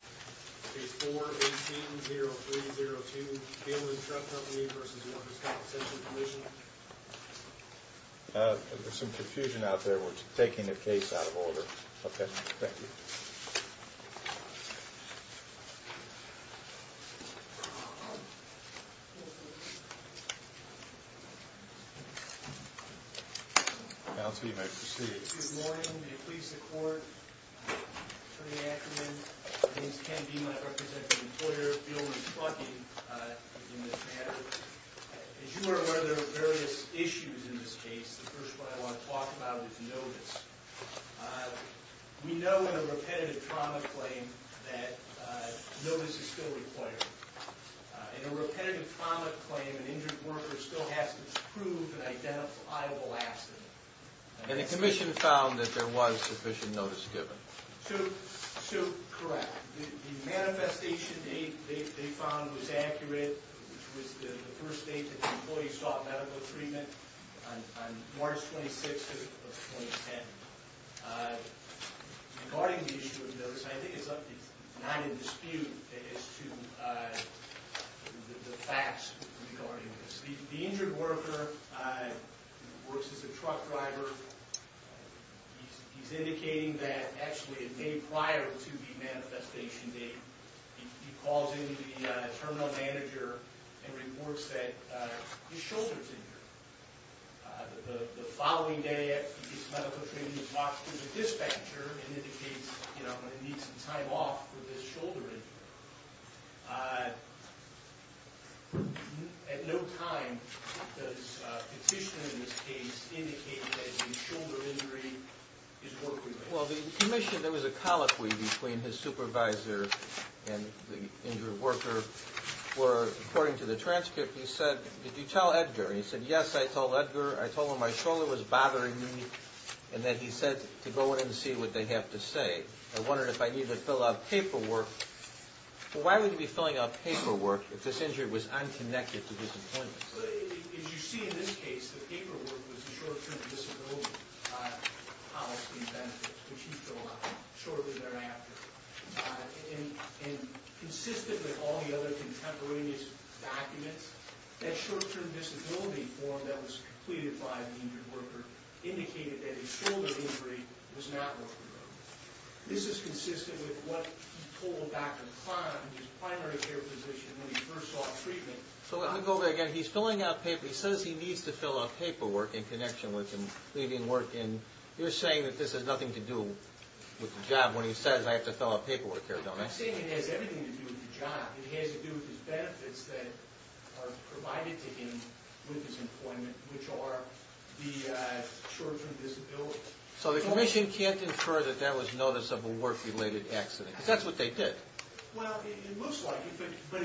Page 4, 18-0302, Beelman Truck Company v. Workers' Compensation Commission. There's some confusion out there. We're taking a case out of order. Okay. Thank you. Counsel, you may proceed. Good morning. May it please the Court, Attorney Ackerman. My name's Ken Beeman. I represent the employer, Beelman Trucking, in this matter. As you are aware, there are various issues in this case. The first one I want to talk about is notice. We know in a repetitive trauma claim that notice is still required. In a repetitive trauma claim, an injured worker still has to prove an identifiable accident. And the Commission found that there was sufficient notice given. So, correct. The manifestation they found was accurate, which was the first date that the employees sought medical treatment, on March 26th of 2010. Regarding the issue of notice, I think it's not in dispute as to the facts regarding this. The injured worker works as a truck driver. He's indicating that, actually, a day prior to the manifestation date, he calls in the terminal manager and reports that his shoulder's injured. The following day, after he gets medical treatment, he walks to the dispatcher and indicates, you know, I'm going to need some time off for this shoulder injury. At no time does Petitioner, in this case, indicate that his shoulder injury is working. Well, the Commission, there was a colloquy between his supervisor and the injured worker where, according to the transcript, he said, Did you tell Edgar? And he said, Yes, I told Edgar. I told him my shoulder was bothering me and that he said to go in and see what they have to say. I wondered if I needed to fill out paperwork. Why would he be filling out paperwork if this injury was unconnected to his employment? As you see in this case, the paperwork was the short-term disability policy benefit, which he filled out shortly thereafter. And consistent with all the other contemporaneous documents, that short-term disability form that was completed by the injured worker indicated that his shoulder injury was not working. This is consistent with what he told Dr. Kahn, his primary care physician, when he first saw treatment. So let me go over that again. He's filling out paperwork. He says he needs to fill out paperwork in connection with him leaving work. And you're saying that this has nothing to do with the job when he says, I have to fill out paperwork here, don't I? I'm saying it has everything to do with the job. It has to do with his benefits that are provided to him with his employment, which are the short-term disability. So the Commission can't infer that that was notice of a work-related accident, because that's what they did. Well, it looks like it, but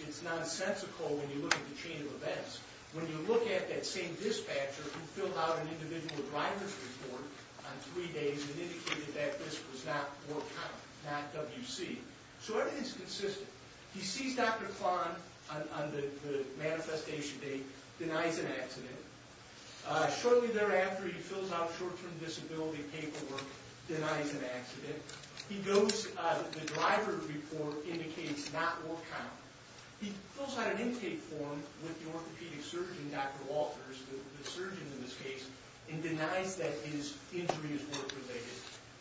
it's nonsensical when you look at the chain of events. When you look at that same dispatcher who filled out an individual driver's report on three days and indicated that this was not work, not WC. So everything's consistent. He sees Dr. Kahn on the manifestation date, denies an accident. Shortly thereafter, he fills out short-term disability paperwork, denies an accident. He goes, the driver report indicates not work count. He fills out an intake form with the orthopedic surgeon, Dr. Walters, the surgeon in this case, and denies that his injury is work-related.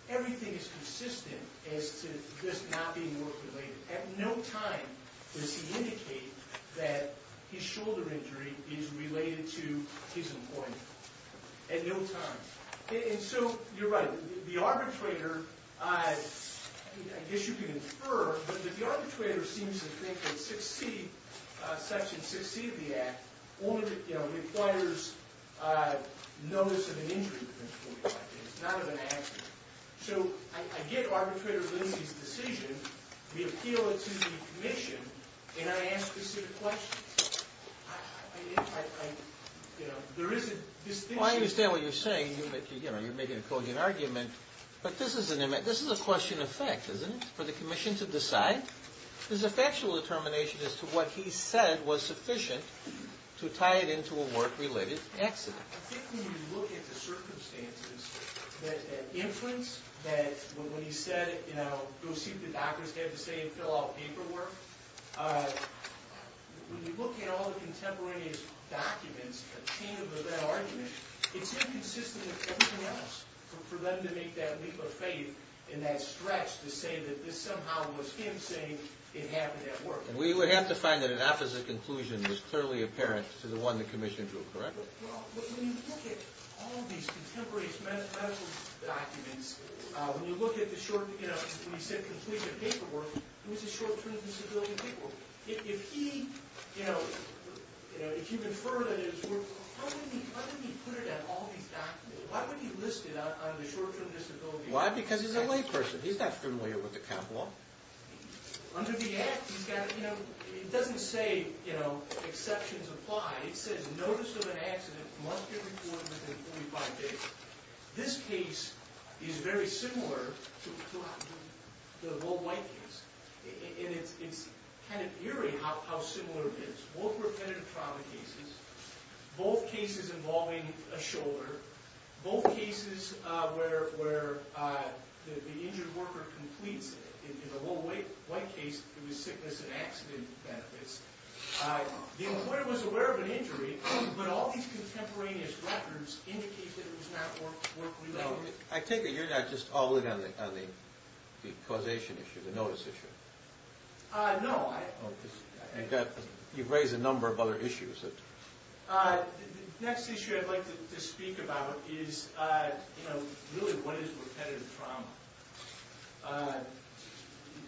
Everything is consistent as to this not being work-related. At no time does he indicate that his shoulder injury is related to his employment. At no time. And so you're right. The arbitrator, I guess you can infer, but the arbitrator seems to think that Section 6C of the Act requires notice of an injury. It's not an accident. So I get Arbitrator Lindsey's decision. We appeal it to the Commission, and I ask specific questions. I understand what you're saying. You're making a cogent argument. But this is a question of fact, isn't it, for the Commission to decide? This is a factual determination as to what he said was sufficient to tie it into a work-related accident. I think when you look at the circumstances, that inference, that when he said, you know, go see what the doctors have to say and fill out paperwork, when you look at all the contemporaneous documents, a chain of event argument, it's inconsistent with everything else for them to make that leap of faith and that stretch to say that this somehow was him saying it happened at work. And we would have to find that an opposite conclusion was clearly apparent to the one the Commission drew, correct? Well, when you look at all these contemporaneous medical documents, when you look at the short, you know, when he said complete the paperwork, it was a short-term disability paperwork. If he, you know, if you infer that it was, how did he put it on all these documents? Why would he list it on the short-term disability? Why? Because he's a layperson. He's not familiar with the cop law. Under the Act, he's got, you know, it doesn't say, you know, exceptions apply. It says notice of an accident must be reported within 45 days. This case is very similar to the Lowell White case. And it's kind of eerie how similar it is. Both repetitive trauma cases, both cases involving a shoulder, both cases where the injured worker completes it. In the Lowell White case, it was sickness and accident benefits. The employer was aware of an injury, but all these contemporaneous records indicate that it was not work-related. I take it you're not just all in on the causation issue, the notice issue? No. You've raised a number of other issues. The next issue I'd like to speak about is, you know, really what is repetitive trauma?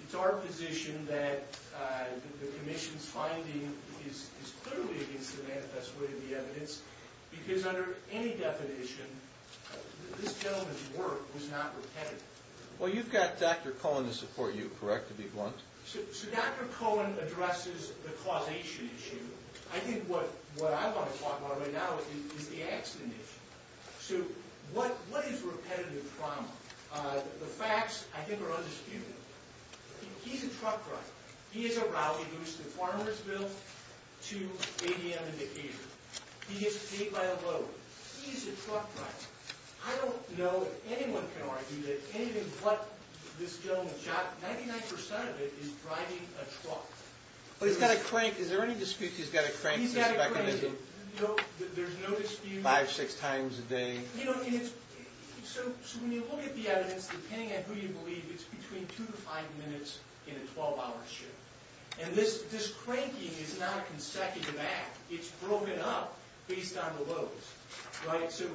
It's our position that the Commission's finding is clearly against the manifest way of the evidence because under any definition, this gentleman's work was not repetitive. Well, you've got Dr. Cohen to support you, correct, to be blunt? So Dr. Cohen addresses the causation issue. I think what I want to talk about right now is the accident issue. So what is repetitive trauma? The facts, I think, are undisputed. He's a truck driver. He has a rally boost in farmers' bills to ADM indicators. He gets paid by the vote. He's a truck driver. I don't know if anyone can argue that anything but this gentleman's job, 99% of it is driving a truck. Well, he's got a crank. Is there any dispute he's got a crank in his mechanism? He's got a crank. There's no dispute. Five, six times a day. So when you look at the evidence, depending on who you believe, it's between two to five minutes in a 12-hour shift. And this cranking is not a consecutive act. It's broken up based on the votes, right? So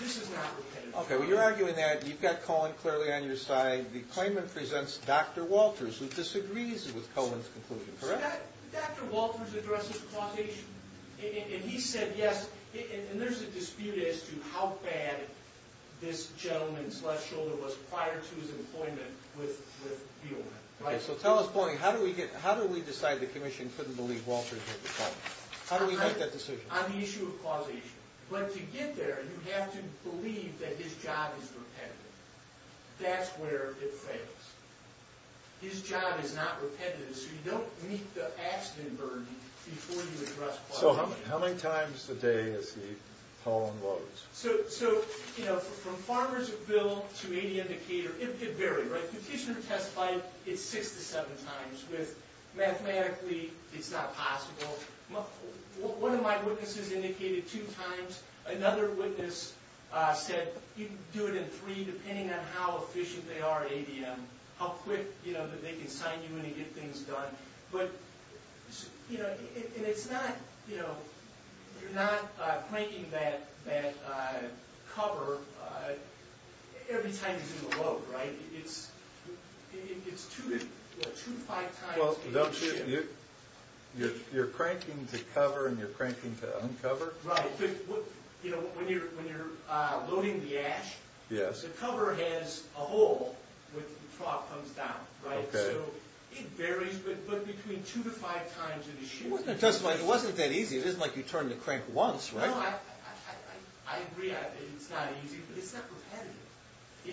this is not repetitive trauma. Okay, well, you're arguing that. You've got Cohen clearly on your side. The claimant presents Dr. Walters, who disagrees with Cohen's conclusion. Correct? Dr. Walters addresses causation. And he said yes. And there's a dispute as to how bad this gentleman's left shoulder was prior to his employment with Healdman. Okay, so tell us, Tony, how do we decide the commission couldn't believe Walters had the problem? How do we make that decision? On the issue of causation. But to get there, you have to believe that his job is repetitive. That's where it fails. His job is not repetitive, so you don't meet the accident burden before you address causation. So how many times a day is he polling votes? So, you know, from Farmersville to AD Indicator, it varied, right? Petitioner testified it six to seven times, with mathematically it's not possible. One of my witnesses indicated two times. Another witness said he'd do it in three, depending on how efficient they are at ADM, how quick, you know, that they can sign you in and get things done. But, you know, and it's not, you know, you're not cranking that cover every time you do a vote, right? It's two to five times. You're cranking to cover and you're cranking to uncover? Right. You know, when you're loading the ash, the cover has a hole when the trough comes down, right? So it varies, but between two to five times an issue. It wasn't that easy. It isn't like you turn the crank once, right? No, I agree it's not easy, but it's not repetitive.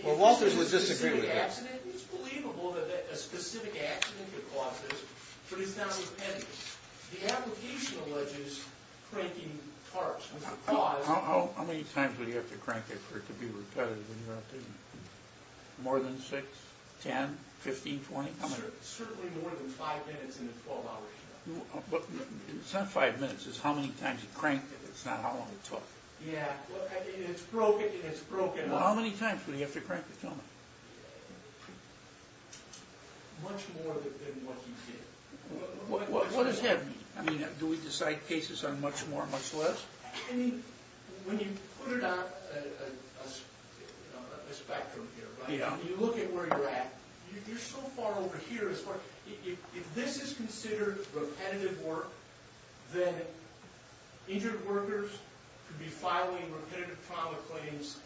Well, Walters would disagree with that. It's believable that a specific accident could cause this, but it's not repetitive. The application alleges cranking parts was a cause. How many times would you have to crank it for it to be repetitive when you're updating it? More than six, ten, fifteen, twenty? Certainly more than five minutes in a 12-hour show. It's not five minutes. It's how many times you cranked it. It's not how long it took. Yeah, and it's broken up. How many times would you have to crank it, tell me? Much more than what you did. What does that mean? Do we decide cases on much more, much less? I mean, when you put it on a spectrum here, right? When you look at where you're at, you're so far over here. If this is considered repetitive work, then injured workers could be filing repetitive trauma claims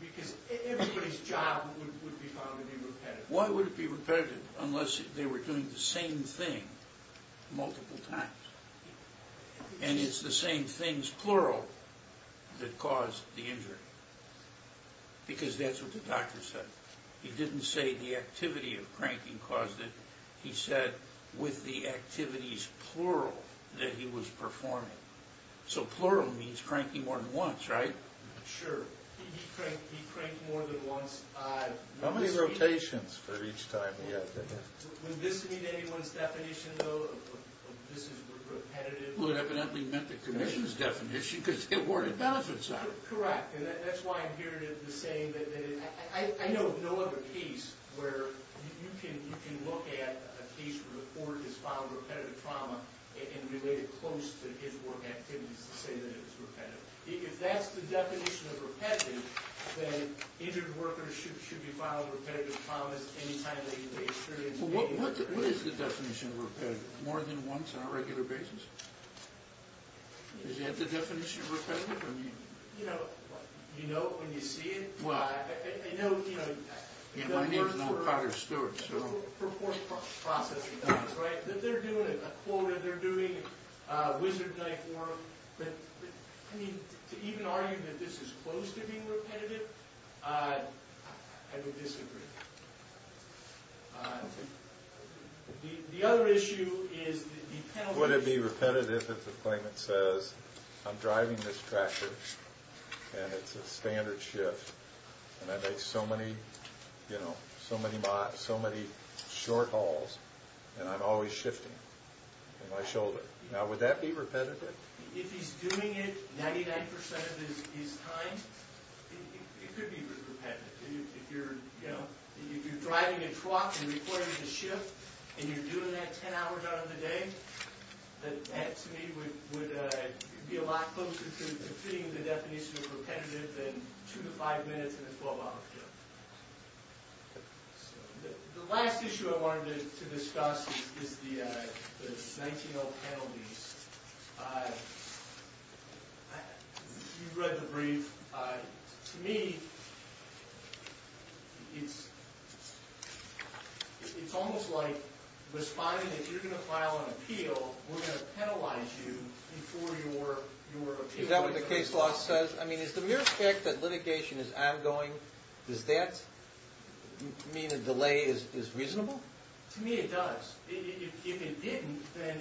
because everybody's job would be found to be repetitive. Why would it be repetitive unless they were doing the same thing multiple times? And it's the same things, plural, that caused the injury because that's what the doctor said. He didn't say the activity of cranking caused it. He said with the activities, plural, that he was performing. So plural means cranking more than once, right? Sure. He cranked more than once. How many rotations for each time he had to hit? Would this meet anyone's definition, though, of this is repetitive? Well, it evidently met the commission's definition because it weren't a benefit site. Correct, and that's why I'm here to say that I know of no other case where you can look at a case where the court has filed repetitive trauma and relate it close to his work activities to say that it's repetitive. If that's the definition of repetitive, then injured workers should be filing repetitive traumas anytime they experience pain. What is the definition of repetitive? More than once on a regular basis? Is that the definition of repetitive? You know it when you see it. Well, I know, you know. My name's no Potter Stewart, so. For forced processing, right? They're doing it. I mean, to even argue that this is close to being repetitive, I would disagree. The other issue is the penalty. Would it be repetitive if the claimant says, I'm driving this tractor and it's a standard shift and I make so many, you know, so many short hauls and I'm always shifting with my shoulder. Would that be repetitive? If he's doing it 99% of his time, it could be repetitive. If you're driving a truck and reporting a shift and you're doing that 10 hours out of the day, that to me would be a lot closer to fitting the definition of repetitive than two to five minutes in a 12-hour shift. The last issue I wanted to discuss is the 19-0 penalties. You read the brief. To me, it's almost like responding that you're going to file an appeal, we're going to penalize you before your appeal. Is that what the case law says? I mean, is the mere fact that litigation is ongoing, does that mean a delay is reasonable? To me, it does. If it didn't, then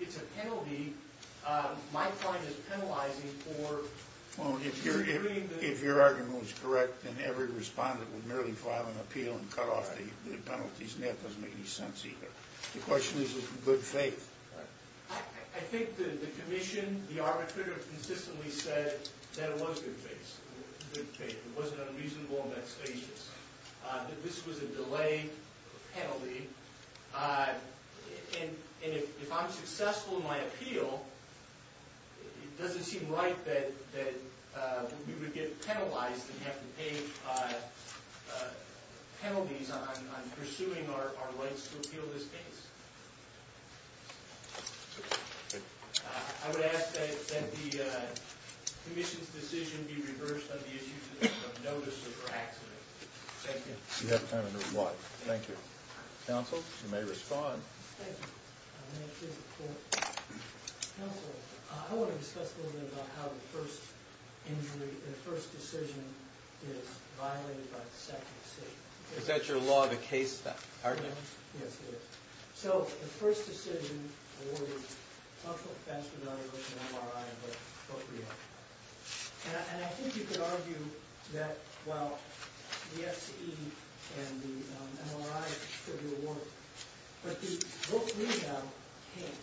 it's a penalty. My client is penalizing for disagreeing. Well, if your argument was correct, then every respondent would merely file an appeal and cut off the penalties, and that doesn't make any sense either. The question is, is it good faith? I think the commission, the arbitrator, consistently said that it was good faith. It wasn't unreasonable and not spacious. That this was a delay penalty. And if I'm successful in my appeal, it doesn't seem right that we would get penalized and have to pay penalties on pursuing our rights to appeal this case. I would ask that the commission's decision be reversed on the issues of notice of her accident. Thank you. You have time to move on. Thank you. Counsel, you may respond. Thank you. I'll make this a point. Counsel, I want to discuss a little bit about how the first injury, the first decision is violated by the second decision. Is that your law of the case? Yes, it is. So, the first decision awarded a functional offense without a written MRI and a book rehab. And I think you could argue that, well, the FCE and the MRI should be awarded, but the book rehab can't,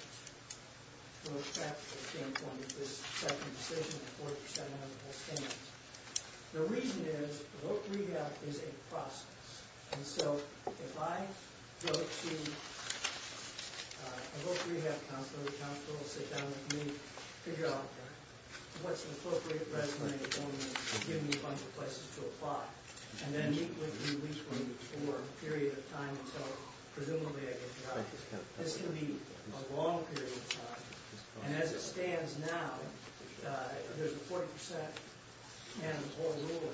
from a practical standpoint, if this second decision, the 4700, will stand. The reason is, book rehab is a process. And so, if I go to a book rehab counselor, the counselor will sit down with me, figure out what's an appropriate resume and give me a bunch of places to apply, and then meet with me weekly for a period of time until presumably I get a job. This can be a long period of time. And as it stands now, there's a 40% mandatory rule.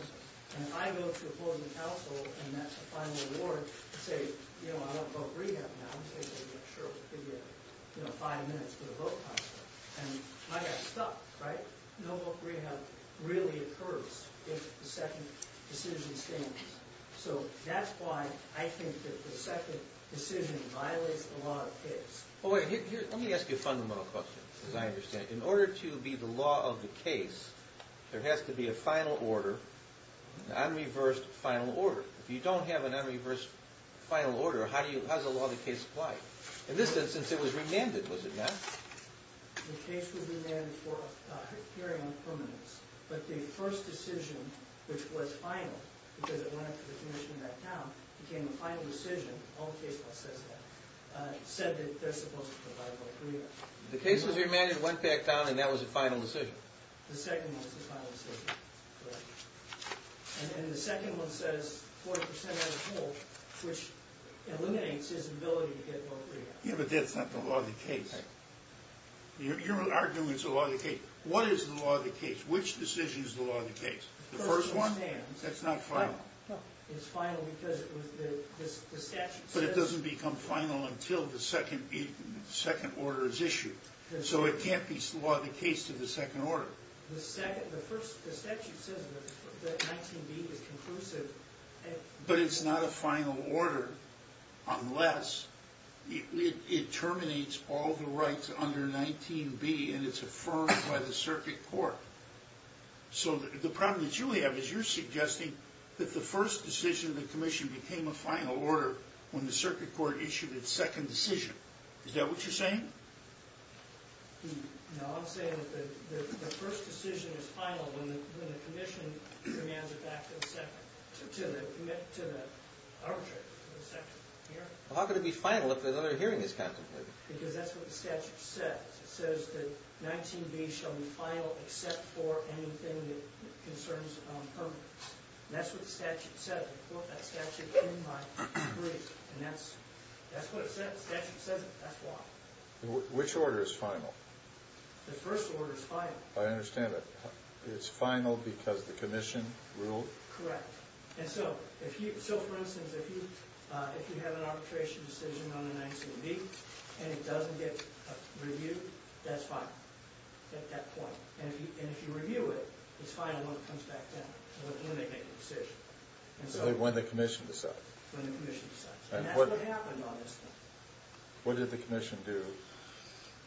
And if I go to a board of counsel and that's the final award, and say, you know, I don't book rehab now, they say, sure, we'll give you five minutes for the book counselor. And I got stuck, right? No book rehab really occurs if the second decision stands. So that's why I think that the second decision violates the law of the case. Let me ask you a fundamental question, as I understand it. In order to be the law of the case, there has to be a final order, non-reversed final order. If you don't have a non-reversed final order, how does the law of the case apply? In this instance, it was remanded, was it not? The case was remanded for a hearing on permanence. But the first decision, which was final, because it went up to the commission and back down, became the final decision. All the case law says that. It said that they're supposed to provide book rehab. The case was remanded, went back down, and that was the final decision? The second one was the final decision, correct. And then the second one says 40% as a whole, which eliminates his ability to get book rehab. Yeah, but that's not the law of the case. You're arguing it's the law of the case. What is the law of the case? Which decision is the law of the case? The first one? That's not final. It's final because the statute says so. But it doesn't become final until the second order is issued. So it can't be the law of the case to the second order. The statute says that 19B is conclusive. But it's not a final order unless it terminates all the rights under 19B and it's affirmed by the circuit court. So the problem that you have is you're suggesting that the first decision of the commission became a final order when the circuit court issued its second decision. Is that what you're saying? No, I'm saying that the first decision is final when the commission demands it back to the arbitrator for the second hearing. Well, how could it be final if another hearing is contemplated? Because that's what the statute says. It says that 19B shall be final except for anything that concerns permits. And that's what the statute said. I put that statute in my brief. And that's what it says. The statute says it. That's why. Which order is final? The first order is final. I understand that. It's final because the commission ruled? Correct. And so, for instance, if you have an arbitration decision on the 19B and it doesn't get reviewed, that's final at that point. And if you review it, it's final when it comes back down when they make the decision. When the commission decides. When the commission decides. And that's what happened on this one. What did the commission do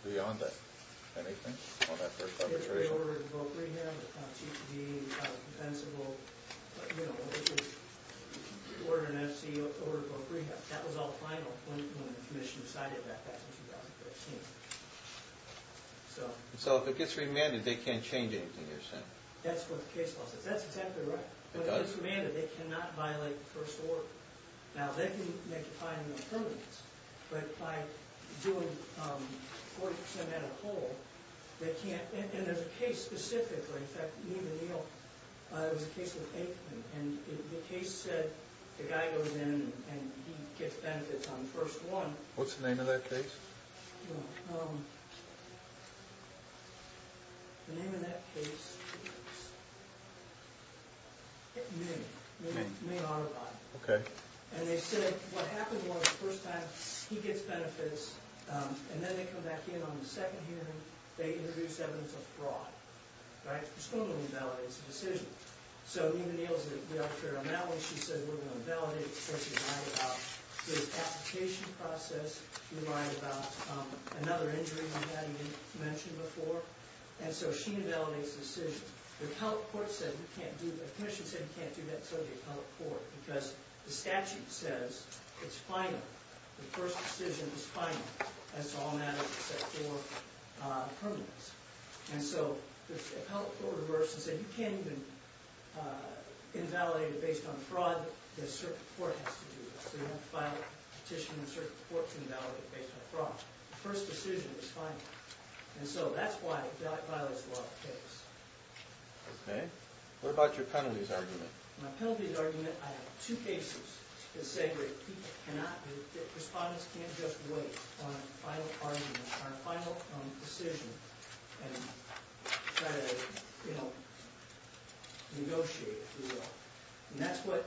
beyond that? Anything on that first arbitration? They ordered a vote rehab. They found TPD. They found it defensible. But, you know, if you order an FC, you order a vote rehab. That was all final when the commission decided that back in 2015. So if it gets remanded, they can't change anything you're saying? That's what the case law says. That's exactly right. But if it gets remanded, they cannot violate the first order. Now, they can make a fine of impermanence. But by doing 40% on a whole, they can't. And there's a case specifically, in fact, me and Neal, it was a case with Aikman, and the case said the guy goes in and he gets benefits on the first one. What's the name of that case? Well, the name of that case was Ming. Ming. Ming Autobi. Okay. And they said what happened was the first time he gets benefits, and then they come back in on the second hearing, they introduce evidence of fraud. Right? It's going to invalidate the decision. So Neal is the authority on that one. She said we're going to validate it. We lied about the application process. We lied about another injury we hadn't mentioned before. And so she invalidates the decision. The appellate court said you can't do that. The commission said you can't do that, so did the appellate court, because the statute says it's final. The first decision is final. It's all matters except for impermanence. And so the appellate court reversed and said you can't even invalidate it on fraud, the circuit court has to do it. So you have to file a petition, and the circuit court can validate it based on fraud. The first decision is final. And so that's why it violates the law of the case. Okay. What about your penalties argument? My penalties argument, I have two cases that say people cannot, that respondents can't just wait on a final argument, on a final decision and try to, you know, negotiate it. And that's what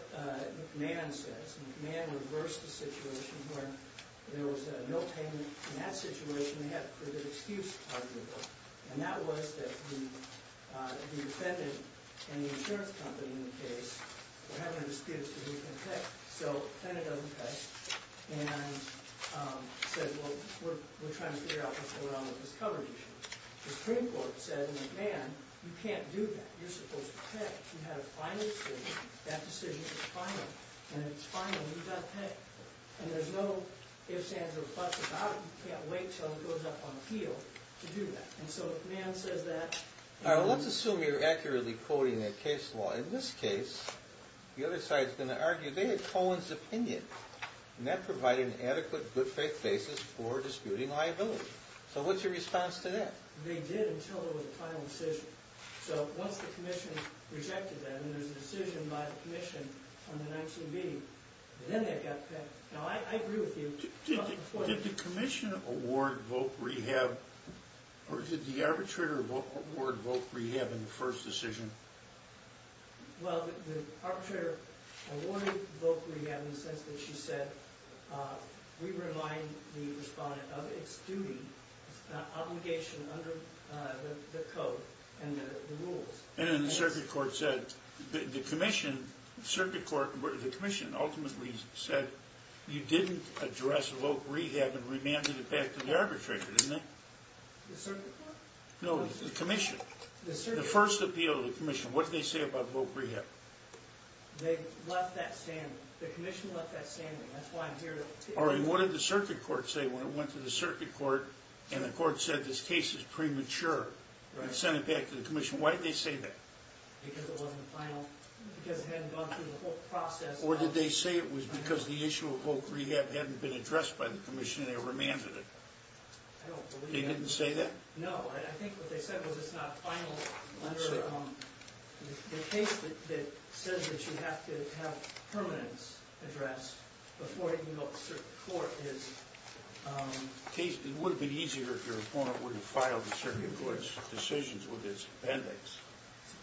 McMahon says. McMahon reversed the situation where there was no payment. In that situation, they had a pretty good excuse argument. And that was that the defendant and the insurance company in the case were having a dispute as to who can pay. So the defendant doesn't pay and said, well, we're trying to figure out what's going on with this coverage issue. The Supreme Court said, McMahon, you can't do that. You're supposed to pay. You had a final decision. That decision is final. And if it's final, you've got to pay. And there's no ifs, ands, or buts about it. You can't wait until it goes up on appeal to do that. And so McMahon says that. All right. Well, let's assume you're accurately quoting a case law. In this case, the other side is going to argue they had Cohen's opinion, and that provided an adequate good faith basis for disputing liability. So what's your response to that? They did until there was a final decision. So once the commission rejected that, and there's a decision by the commission on the 19B, then they've got to pay. Now, I agree with you. Did the commission award vote rehab, or did the arbitrator award vote rehab in the first decision? Well, the arbitrator awarded vote rehab in the sense that she said, we remind the respondent of its duty, obligation under the code and the rules. And then the circuit court said, the commission ultimately said, you didn't address vote rehab and remanded it back to the arbitrator, didn't they? The circuit court? No, the commission. The first appeal to the commission. What did they say about vote rehab? They left that standing. The commission left that standing. That's why I'm here. All right. And what did the circuit court say when it went to the circuit court, and the court said this case is premature and sent it back to the commission? Why did they say that? Because it wasn't final. Because it hadn't gone through the whole process. Or did they say it was because the issue of vote rehab hadn't been addressed by the commission and they remanded it? I don't believe that. They didn't say that? No. I think what they said was it's not final under the case that says that you have to have permanence addressed before it can go up to the circuit court. It would have been easier if your opponent were to file the circuit court's decisions with his appendix.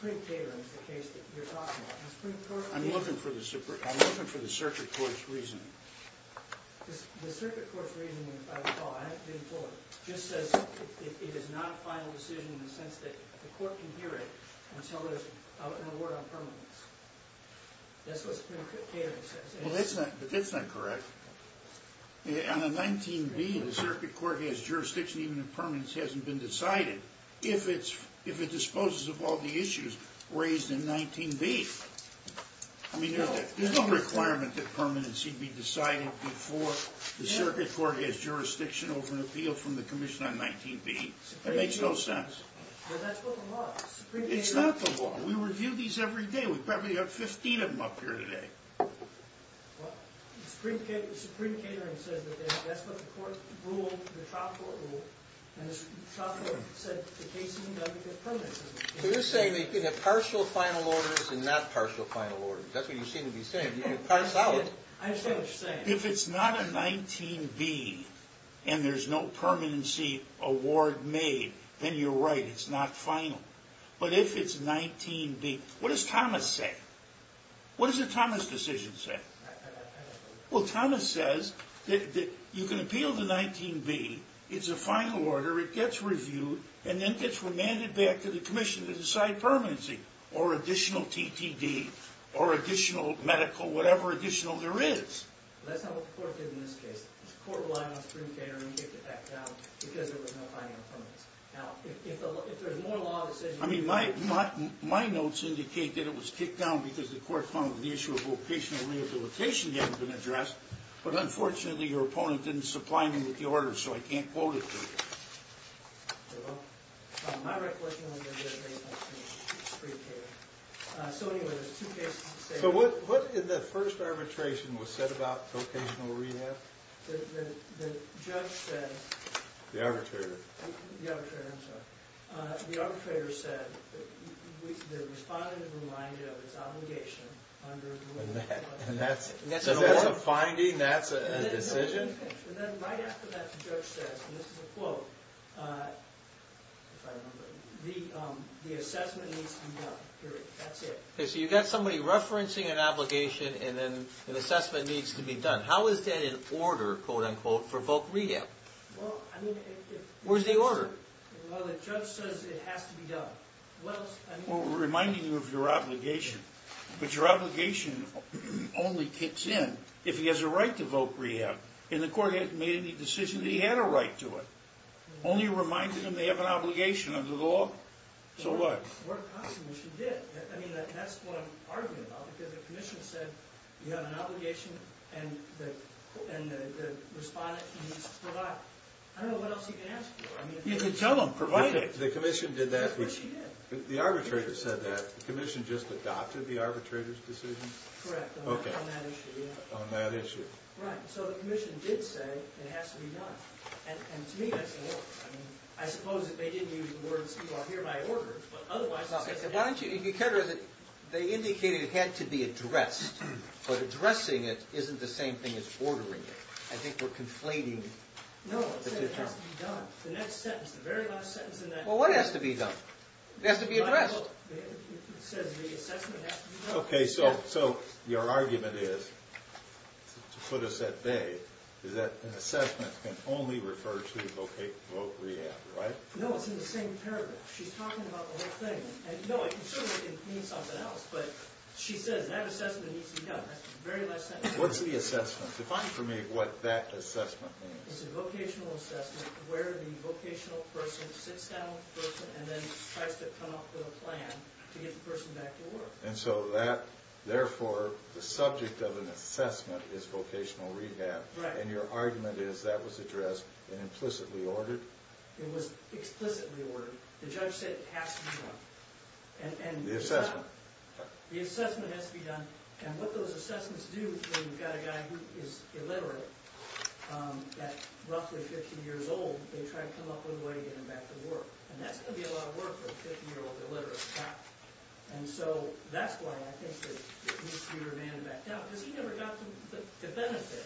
The Supreme Court is the case that you're talking about. I'm looking for the circuit court's reasoning. The circuit court's reasoning, if I recall, I have to be implored, just says it is not a final decision in the sense that the court can hear it until there's an award on permanence. That's what the catering says. Well, that's not correct. On a 19B, the circuit court has jurisdiction, even if permanence hasn't been decided, if it disposes of all the issues raised in 19B. I mean, there's no requirement that permanency be decided before the circuit court has jurisdiction over an appeal from the commission on 19B. It makes no sense. Well, that's what the law is. It's not the law. We review these every day. We probably have 15 of them up here today. Well, the Supreme Catering says that that's what the court ruled, the trial court ruled, and the trial court said the case didn't have to get permanence. So you're saying they can have partial final orders and not partial final orders. That's what you seem to be saying. I understand what you're saying. If it's not a 19B and there's no permanency award made, then you're right, it's not final. But if it's 19B, what does Thomas say? What does the Thomas decision say? Well, Thomas says that you can appeal to 19B, it's a final order, it gets reviewed, and then gets remanded back to the commission to decide permanency, or additional TTD, or additional medical, whatever additional there is. That's not what the court did in this case. The court relied on Supreme Catering and kicked it back down because there was no final permanence. Now, if there's more law decisions... I mean, my notes indicate that it was kicked down because the court found that the issue of vocational rehabilitation hadn't been addressed, but unfortunately your opponent didn't supply me with the order, so I can't quote it to you. My recollection is that it may have been Supreme Catering. So anyway, there's two cases to say that. So what in the first arbitration was said about vocational rehab? The judge said... The arbitrator. The arbitrator, I'm sorry. The arbitrator said that the respondent is reminded of its obligation under... And that's a finding? That's a decision? And then right after that, the judge says, and this is a quote, if I remember, the assessment needs to be done, period. That's it. Okay, so you've got somebody referencing an obligation, and then an assessment needs to be done. How is that in order, quote unquote, for voc rehab? Well, I mean... Where's the order? Well, the judge says it has to be done. Well, we're reminding you of your obligation, but your obligation only kicks in if he has a right to voc rehab. And the court hasn't made any decision that he had a right to it. Only reminded him they have an obligation under the law. So what? Well, possibly she did. I mean, that's what I'm arguing about. Because the commission said you have an obligation, and the respondent needs to provide. I don't know what else you can ask for. You can tell them, provide it. The commission did that... She did. The arbitrator said that. The commission just adopted the arbitrator's decision? Correct, on that issue, yeah. On that issue. Right, so the commission did say it has to be done. And to me, that's the order. I suppose if they didn't use the words, you are hereby ordered. But otherwise... Why don't you... They indicated it had to be addressed. But addressing it isn't the same thing as ordering it. I think we're conflating the two terms. No, it says it has to be done. The next sentence, the very last sentence in that... Well, what has to be done? It has to be addressed. It says the assessment has to be done. Okay, so your argument is, to put us at bay, is that an assessment can only refer to vocational rehab, right? No, it's in the same paragraph. She's talking about the whole thing. No, I'm sure it means something else, but she says that assessment needs to be done. That's the very last sentence. What's the assessment? Define for me what that assessment means. It's a vocational assessment where the vocational person sits down with the person and then tries to come up with a plan to get the person back to work. And so that, therefore, the subject of an assessment is vocational rehab. Right. And your argument is that was addressed and implicitly ordered? It was explicitly ordered. The judge said it has to be done. The assessment. The assessment has to be done. And what those assessments do is when you've got a guy who is illiterate, at roughly 15 years old, they try to come up with a way to get him back to work. And that's going to be a lot of work for a 15-year-old illiterate cop. And so that's why I think that it needs to be remanded back down, because he never got the benefit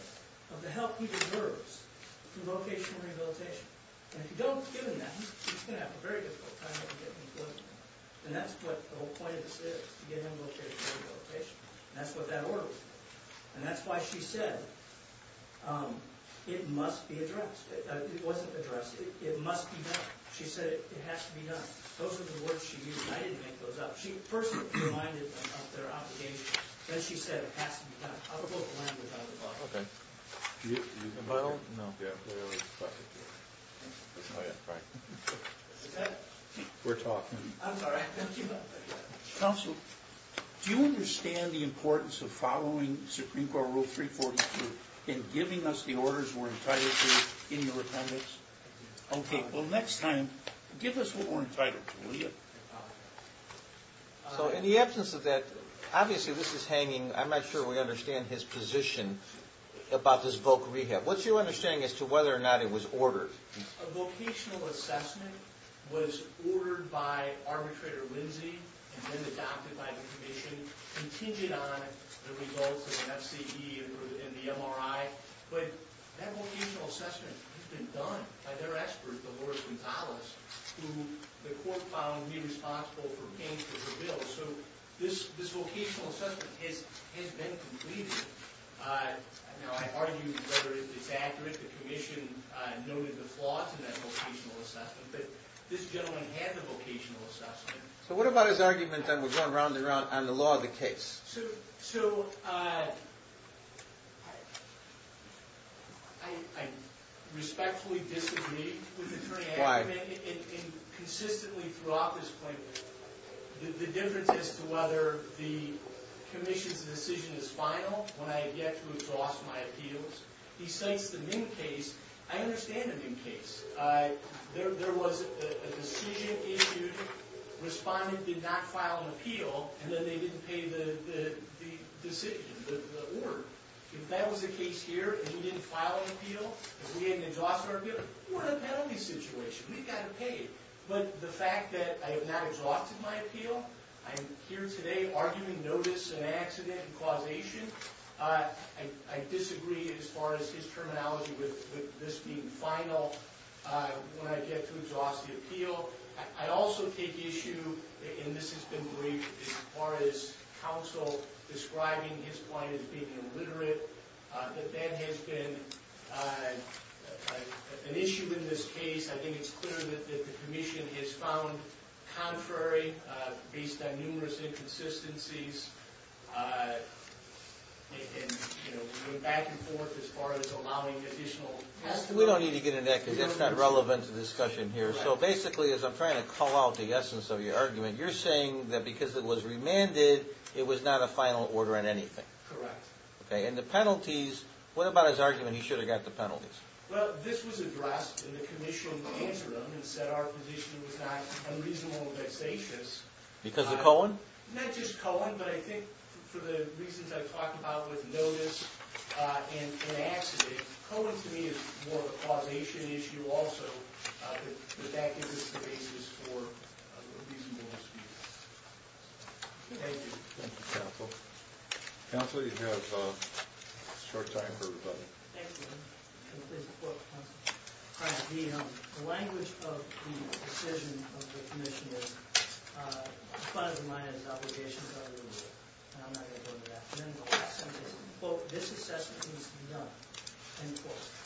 of the help he deserves through vocational rehabilitation. And if you don't give him that, he's going to have a very difficult time getting employment. And that's what the whole point of this is, to get him vocational rehabilitation. And that's what that order was. And that's why she said it must be addressed. It wasn't addressed. It must be done. She said it has to be done. Those are the words she used. I didn't make those up. First, she reminded them of their obligation. Then she said it has to be done. I'll put the language on the bottom. Okay. Do you have the Bible? No. Yeah. Oh, yeah. Right. Okay. We're talking. I'm sorry. Counsel, do you understand the importance of following Supreme Court Rule 342 and giving us the orders we're entitled to in your appendix? Okay. Well, next time, give us what we're entitled to, will you? Okay. So in the absence of that, obviously this is hanging. I'm not sure we understand his position about this voc rehab. What's your understanding as to whether or not it was ordered? A vocational assessment was ordered by arbitrator Lindsey and then adopted by the commission, contingent on the results of an FCE and the MRI. But that vocational assessment has been done by their expert, the Lord Gonzalez, who the court found to be responsible for paying for the bill. So this vocational assessment has been completed. Now, I argue whether it's accurate. The commission noted the flaws in that vocational assessment, but this gentleman had the vocational assessment. So what about his argument, then, we're going round and round, on the law of the case? So I respectfully disagree with the attorney. Why? Consistently throughout this point, the difference as to whether the commission's decision is final, when I have yet to exhaust my appeals, besides the MIM case, I understand the MIM case. There was a decision issued, respondent did not file an appeal, and then they didn't pay the decision, the order. If that was the case here, and he didn't file an appeal, and we didn't exhaust our appeal, we're in a penalty situation. We've got to pay it. But the fact that I have not exhausted my appeal, I'm here today arguing notice and accident and causation, I disagree as far as his terminology with this being final when I get to exhaust the appeal. I also take issue, and this has been briefed, as far as counsel describing his point as being illiterate, that there has been an issue in this case. I think it's clear that the commission has found contrary, based on numerous inconsistencies, going back and forth as far as allowing additional testimony. We don't need to get into that because it's not relevant to the discussion here. So basically, as I'm trying to call out the essence of your argument, you're saying that because it was remanded, it was not a final order in anything. Correct. Okay, and the penalties, what about his argument he should have got the penalties? Well, this was addressed in the commissional interim, and said our position was not unreasonable or vexatious. Because of Cohen? Not just Cohen, but I think for the reasons I've talked about with notice and accident, Cohen, to me, is more of a causation issue also. But that gives us the basis for a reasonable dispute. Thank you. Thank you, counsel. Counsel, you have short time for everybody. Thank you. The language of the decision of the commission is, as far as mine is, obligations under the law. And I'm not going to go into that. But this assessment needs to be done.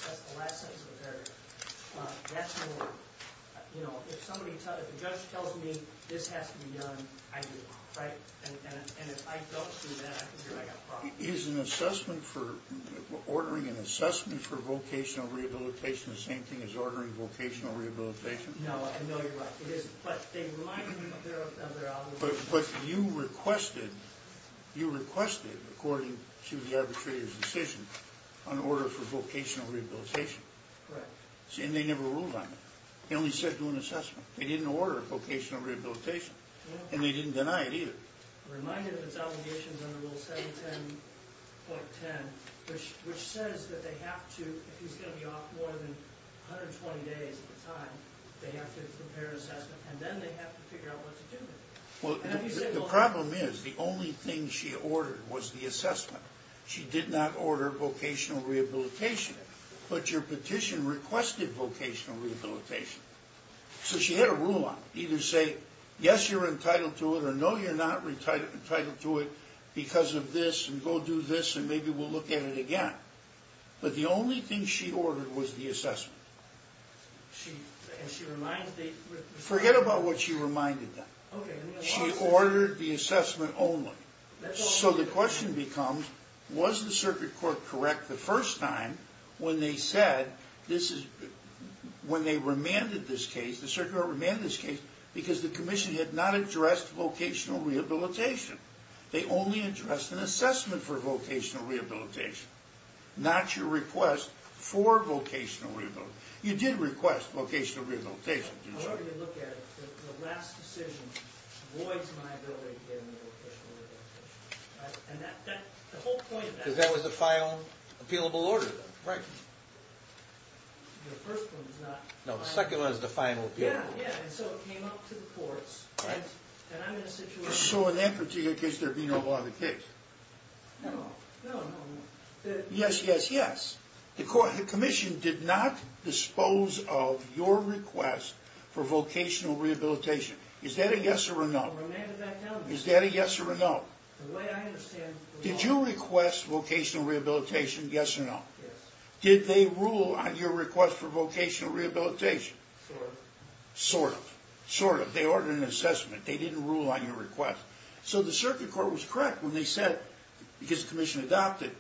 That's the last sentence of the paragraph. That's more, you know, if the judge tells me this has to be done, I do. And if I don't do that, I can hear I've got a problem. Is ordering an assessment for vocational rehabilitation the same thing as ordering vocational rehabilitation? No, I know you're right. But they remind me of their obligations. But you requested, according to the arbitrator's decision, an order for vocational rehabilitation. Correct. And they never ruled on it. They only said do an assessment. They didn't order a vocational rehabilitation. And they didn't deny it either. Reminded that it's obligations under Rule 710.10, which says that they have to, if he's going to be off more than 120 days at a time, they have to prepare an assessment. And then they have to figure out what to do with it. The problem is, the only thing she ordered was the assessment. She did not order vocational rehabilitation. But your petition requested vocational rehabilitation. So she had a rule on it. Either say, yes, you're entitled to it, or no, you're not entitled to it, because of this, and go do this, and maybe we'll look at it again. But the only thing she ordered was the assessment. And she reminded the circuit court? Forget about what she reminded them. She ordered the assessment only. So the question becomes, was the circuit court correct the first time when they said this is, when they remanded this case, the circuit court remanded this case, because the commission had not addressed vocational rehabilitation. They only addressed an assessment for vocational rehabilitation, not your request for vocational rehabilitation. You did request vocational rehabilitation, didn't you? I'm going to look at it. The last decision voids my ability to get into vocational rehabilitation. Because that was the final appealable order. Right. No, the second one was the final appealable order. Yeah, and so it came up to the courts. Right. And I'm in a situation... So in that particular case, there'd be no law in the case. No, no, no. Yes, yes, yes. The commission did not dispose of your request for vocational rehabilitation. Is that a yes or a no? Is that a yes or a no? The way I understand... Did you request vocational rehabilitation, yes or no? Yes. Did they rule on your request for vocational rehabilitation? Sort of. Sort of. Sort of. They ordered an assessment. They didn't rule on your request. So the circuit court was correct when they said, because the commission adopted,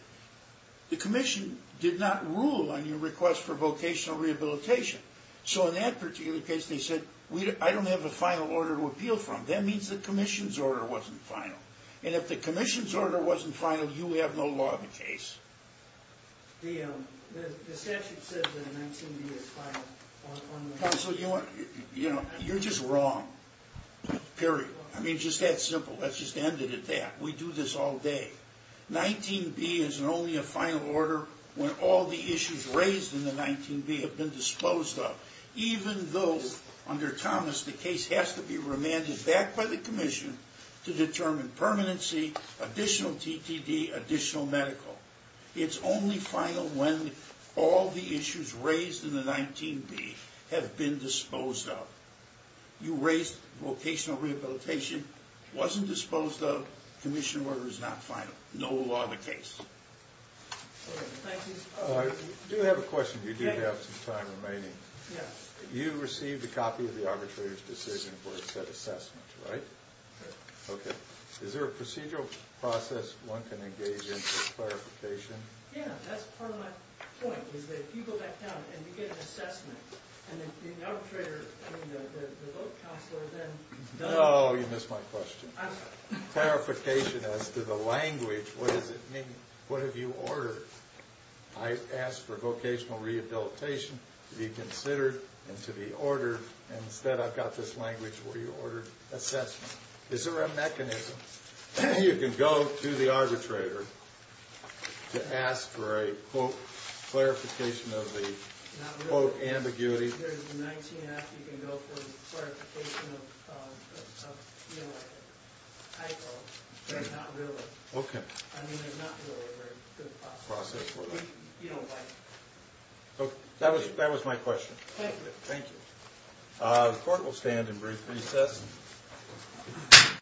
the commission did not rule on your request for vocational rehabilitation. So in that particular case, they said, I don't have a final order to appeal from. That means the commission's order wasn't final. And if the commission's order wasn't final, you have no law in the case. Counsel, you're just wrong. Period. I mean, it's just that simple. Let's just end it at that. We do this all day. 19B is only a final order when all the issues raised in the 19B have been disposed of, even though, under Thomas, the case has to be remanded back by the commission to determine permanency, additional TTD, additional medical. It's only final when all the issues raised in the 19B have been disposed of. You raised vocational rehabilitation, wasn't disposed of. Commission order is not final. No law in the case. I do have a question. You do have some time remaining. Yes. You received a copy of the arbitrator's decision for a set assessment, right? Right. Okay. Is there a procedural process one can engage in for clarification? Yeah. That's part of my point, is that if you go back down and you get an assessment, and then the arbitrator, I mean, the vote counselor then does it. Oh, you missed my question. I'm sorry. Clarification as to the language, what does it mean? What have you ordered? I asked for vocational rehabilitation to be considered and to be ordered, and instead I've got this language where you ordered assessment. Is there a mechanism you can go to the arbitrator to ask for a, quote, clarification of the, quote, ambiguity? If there's a 19-and-a-half, you can go for clarification of, you know, a title, but not really. Okay. I mean, there's not really a very good process. You don't like it. Okay. That was my question. Thank you. Thank you. The court will stand in brief recess.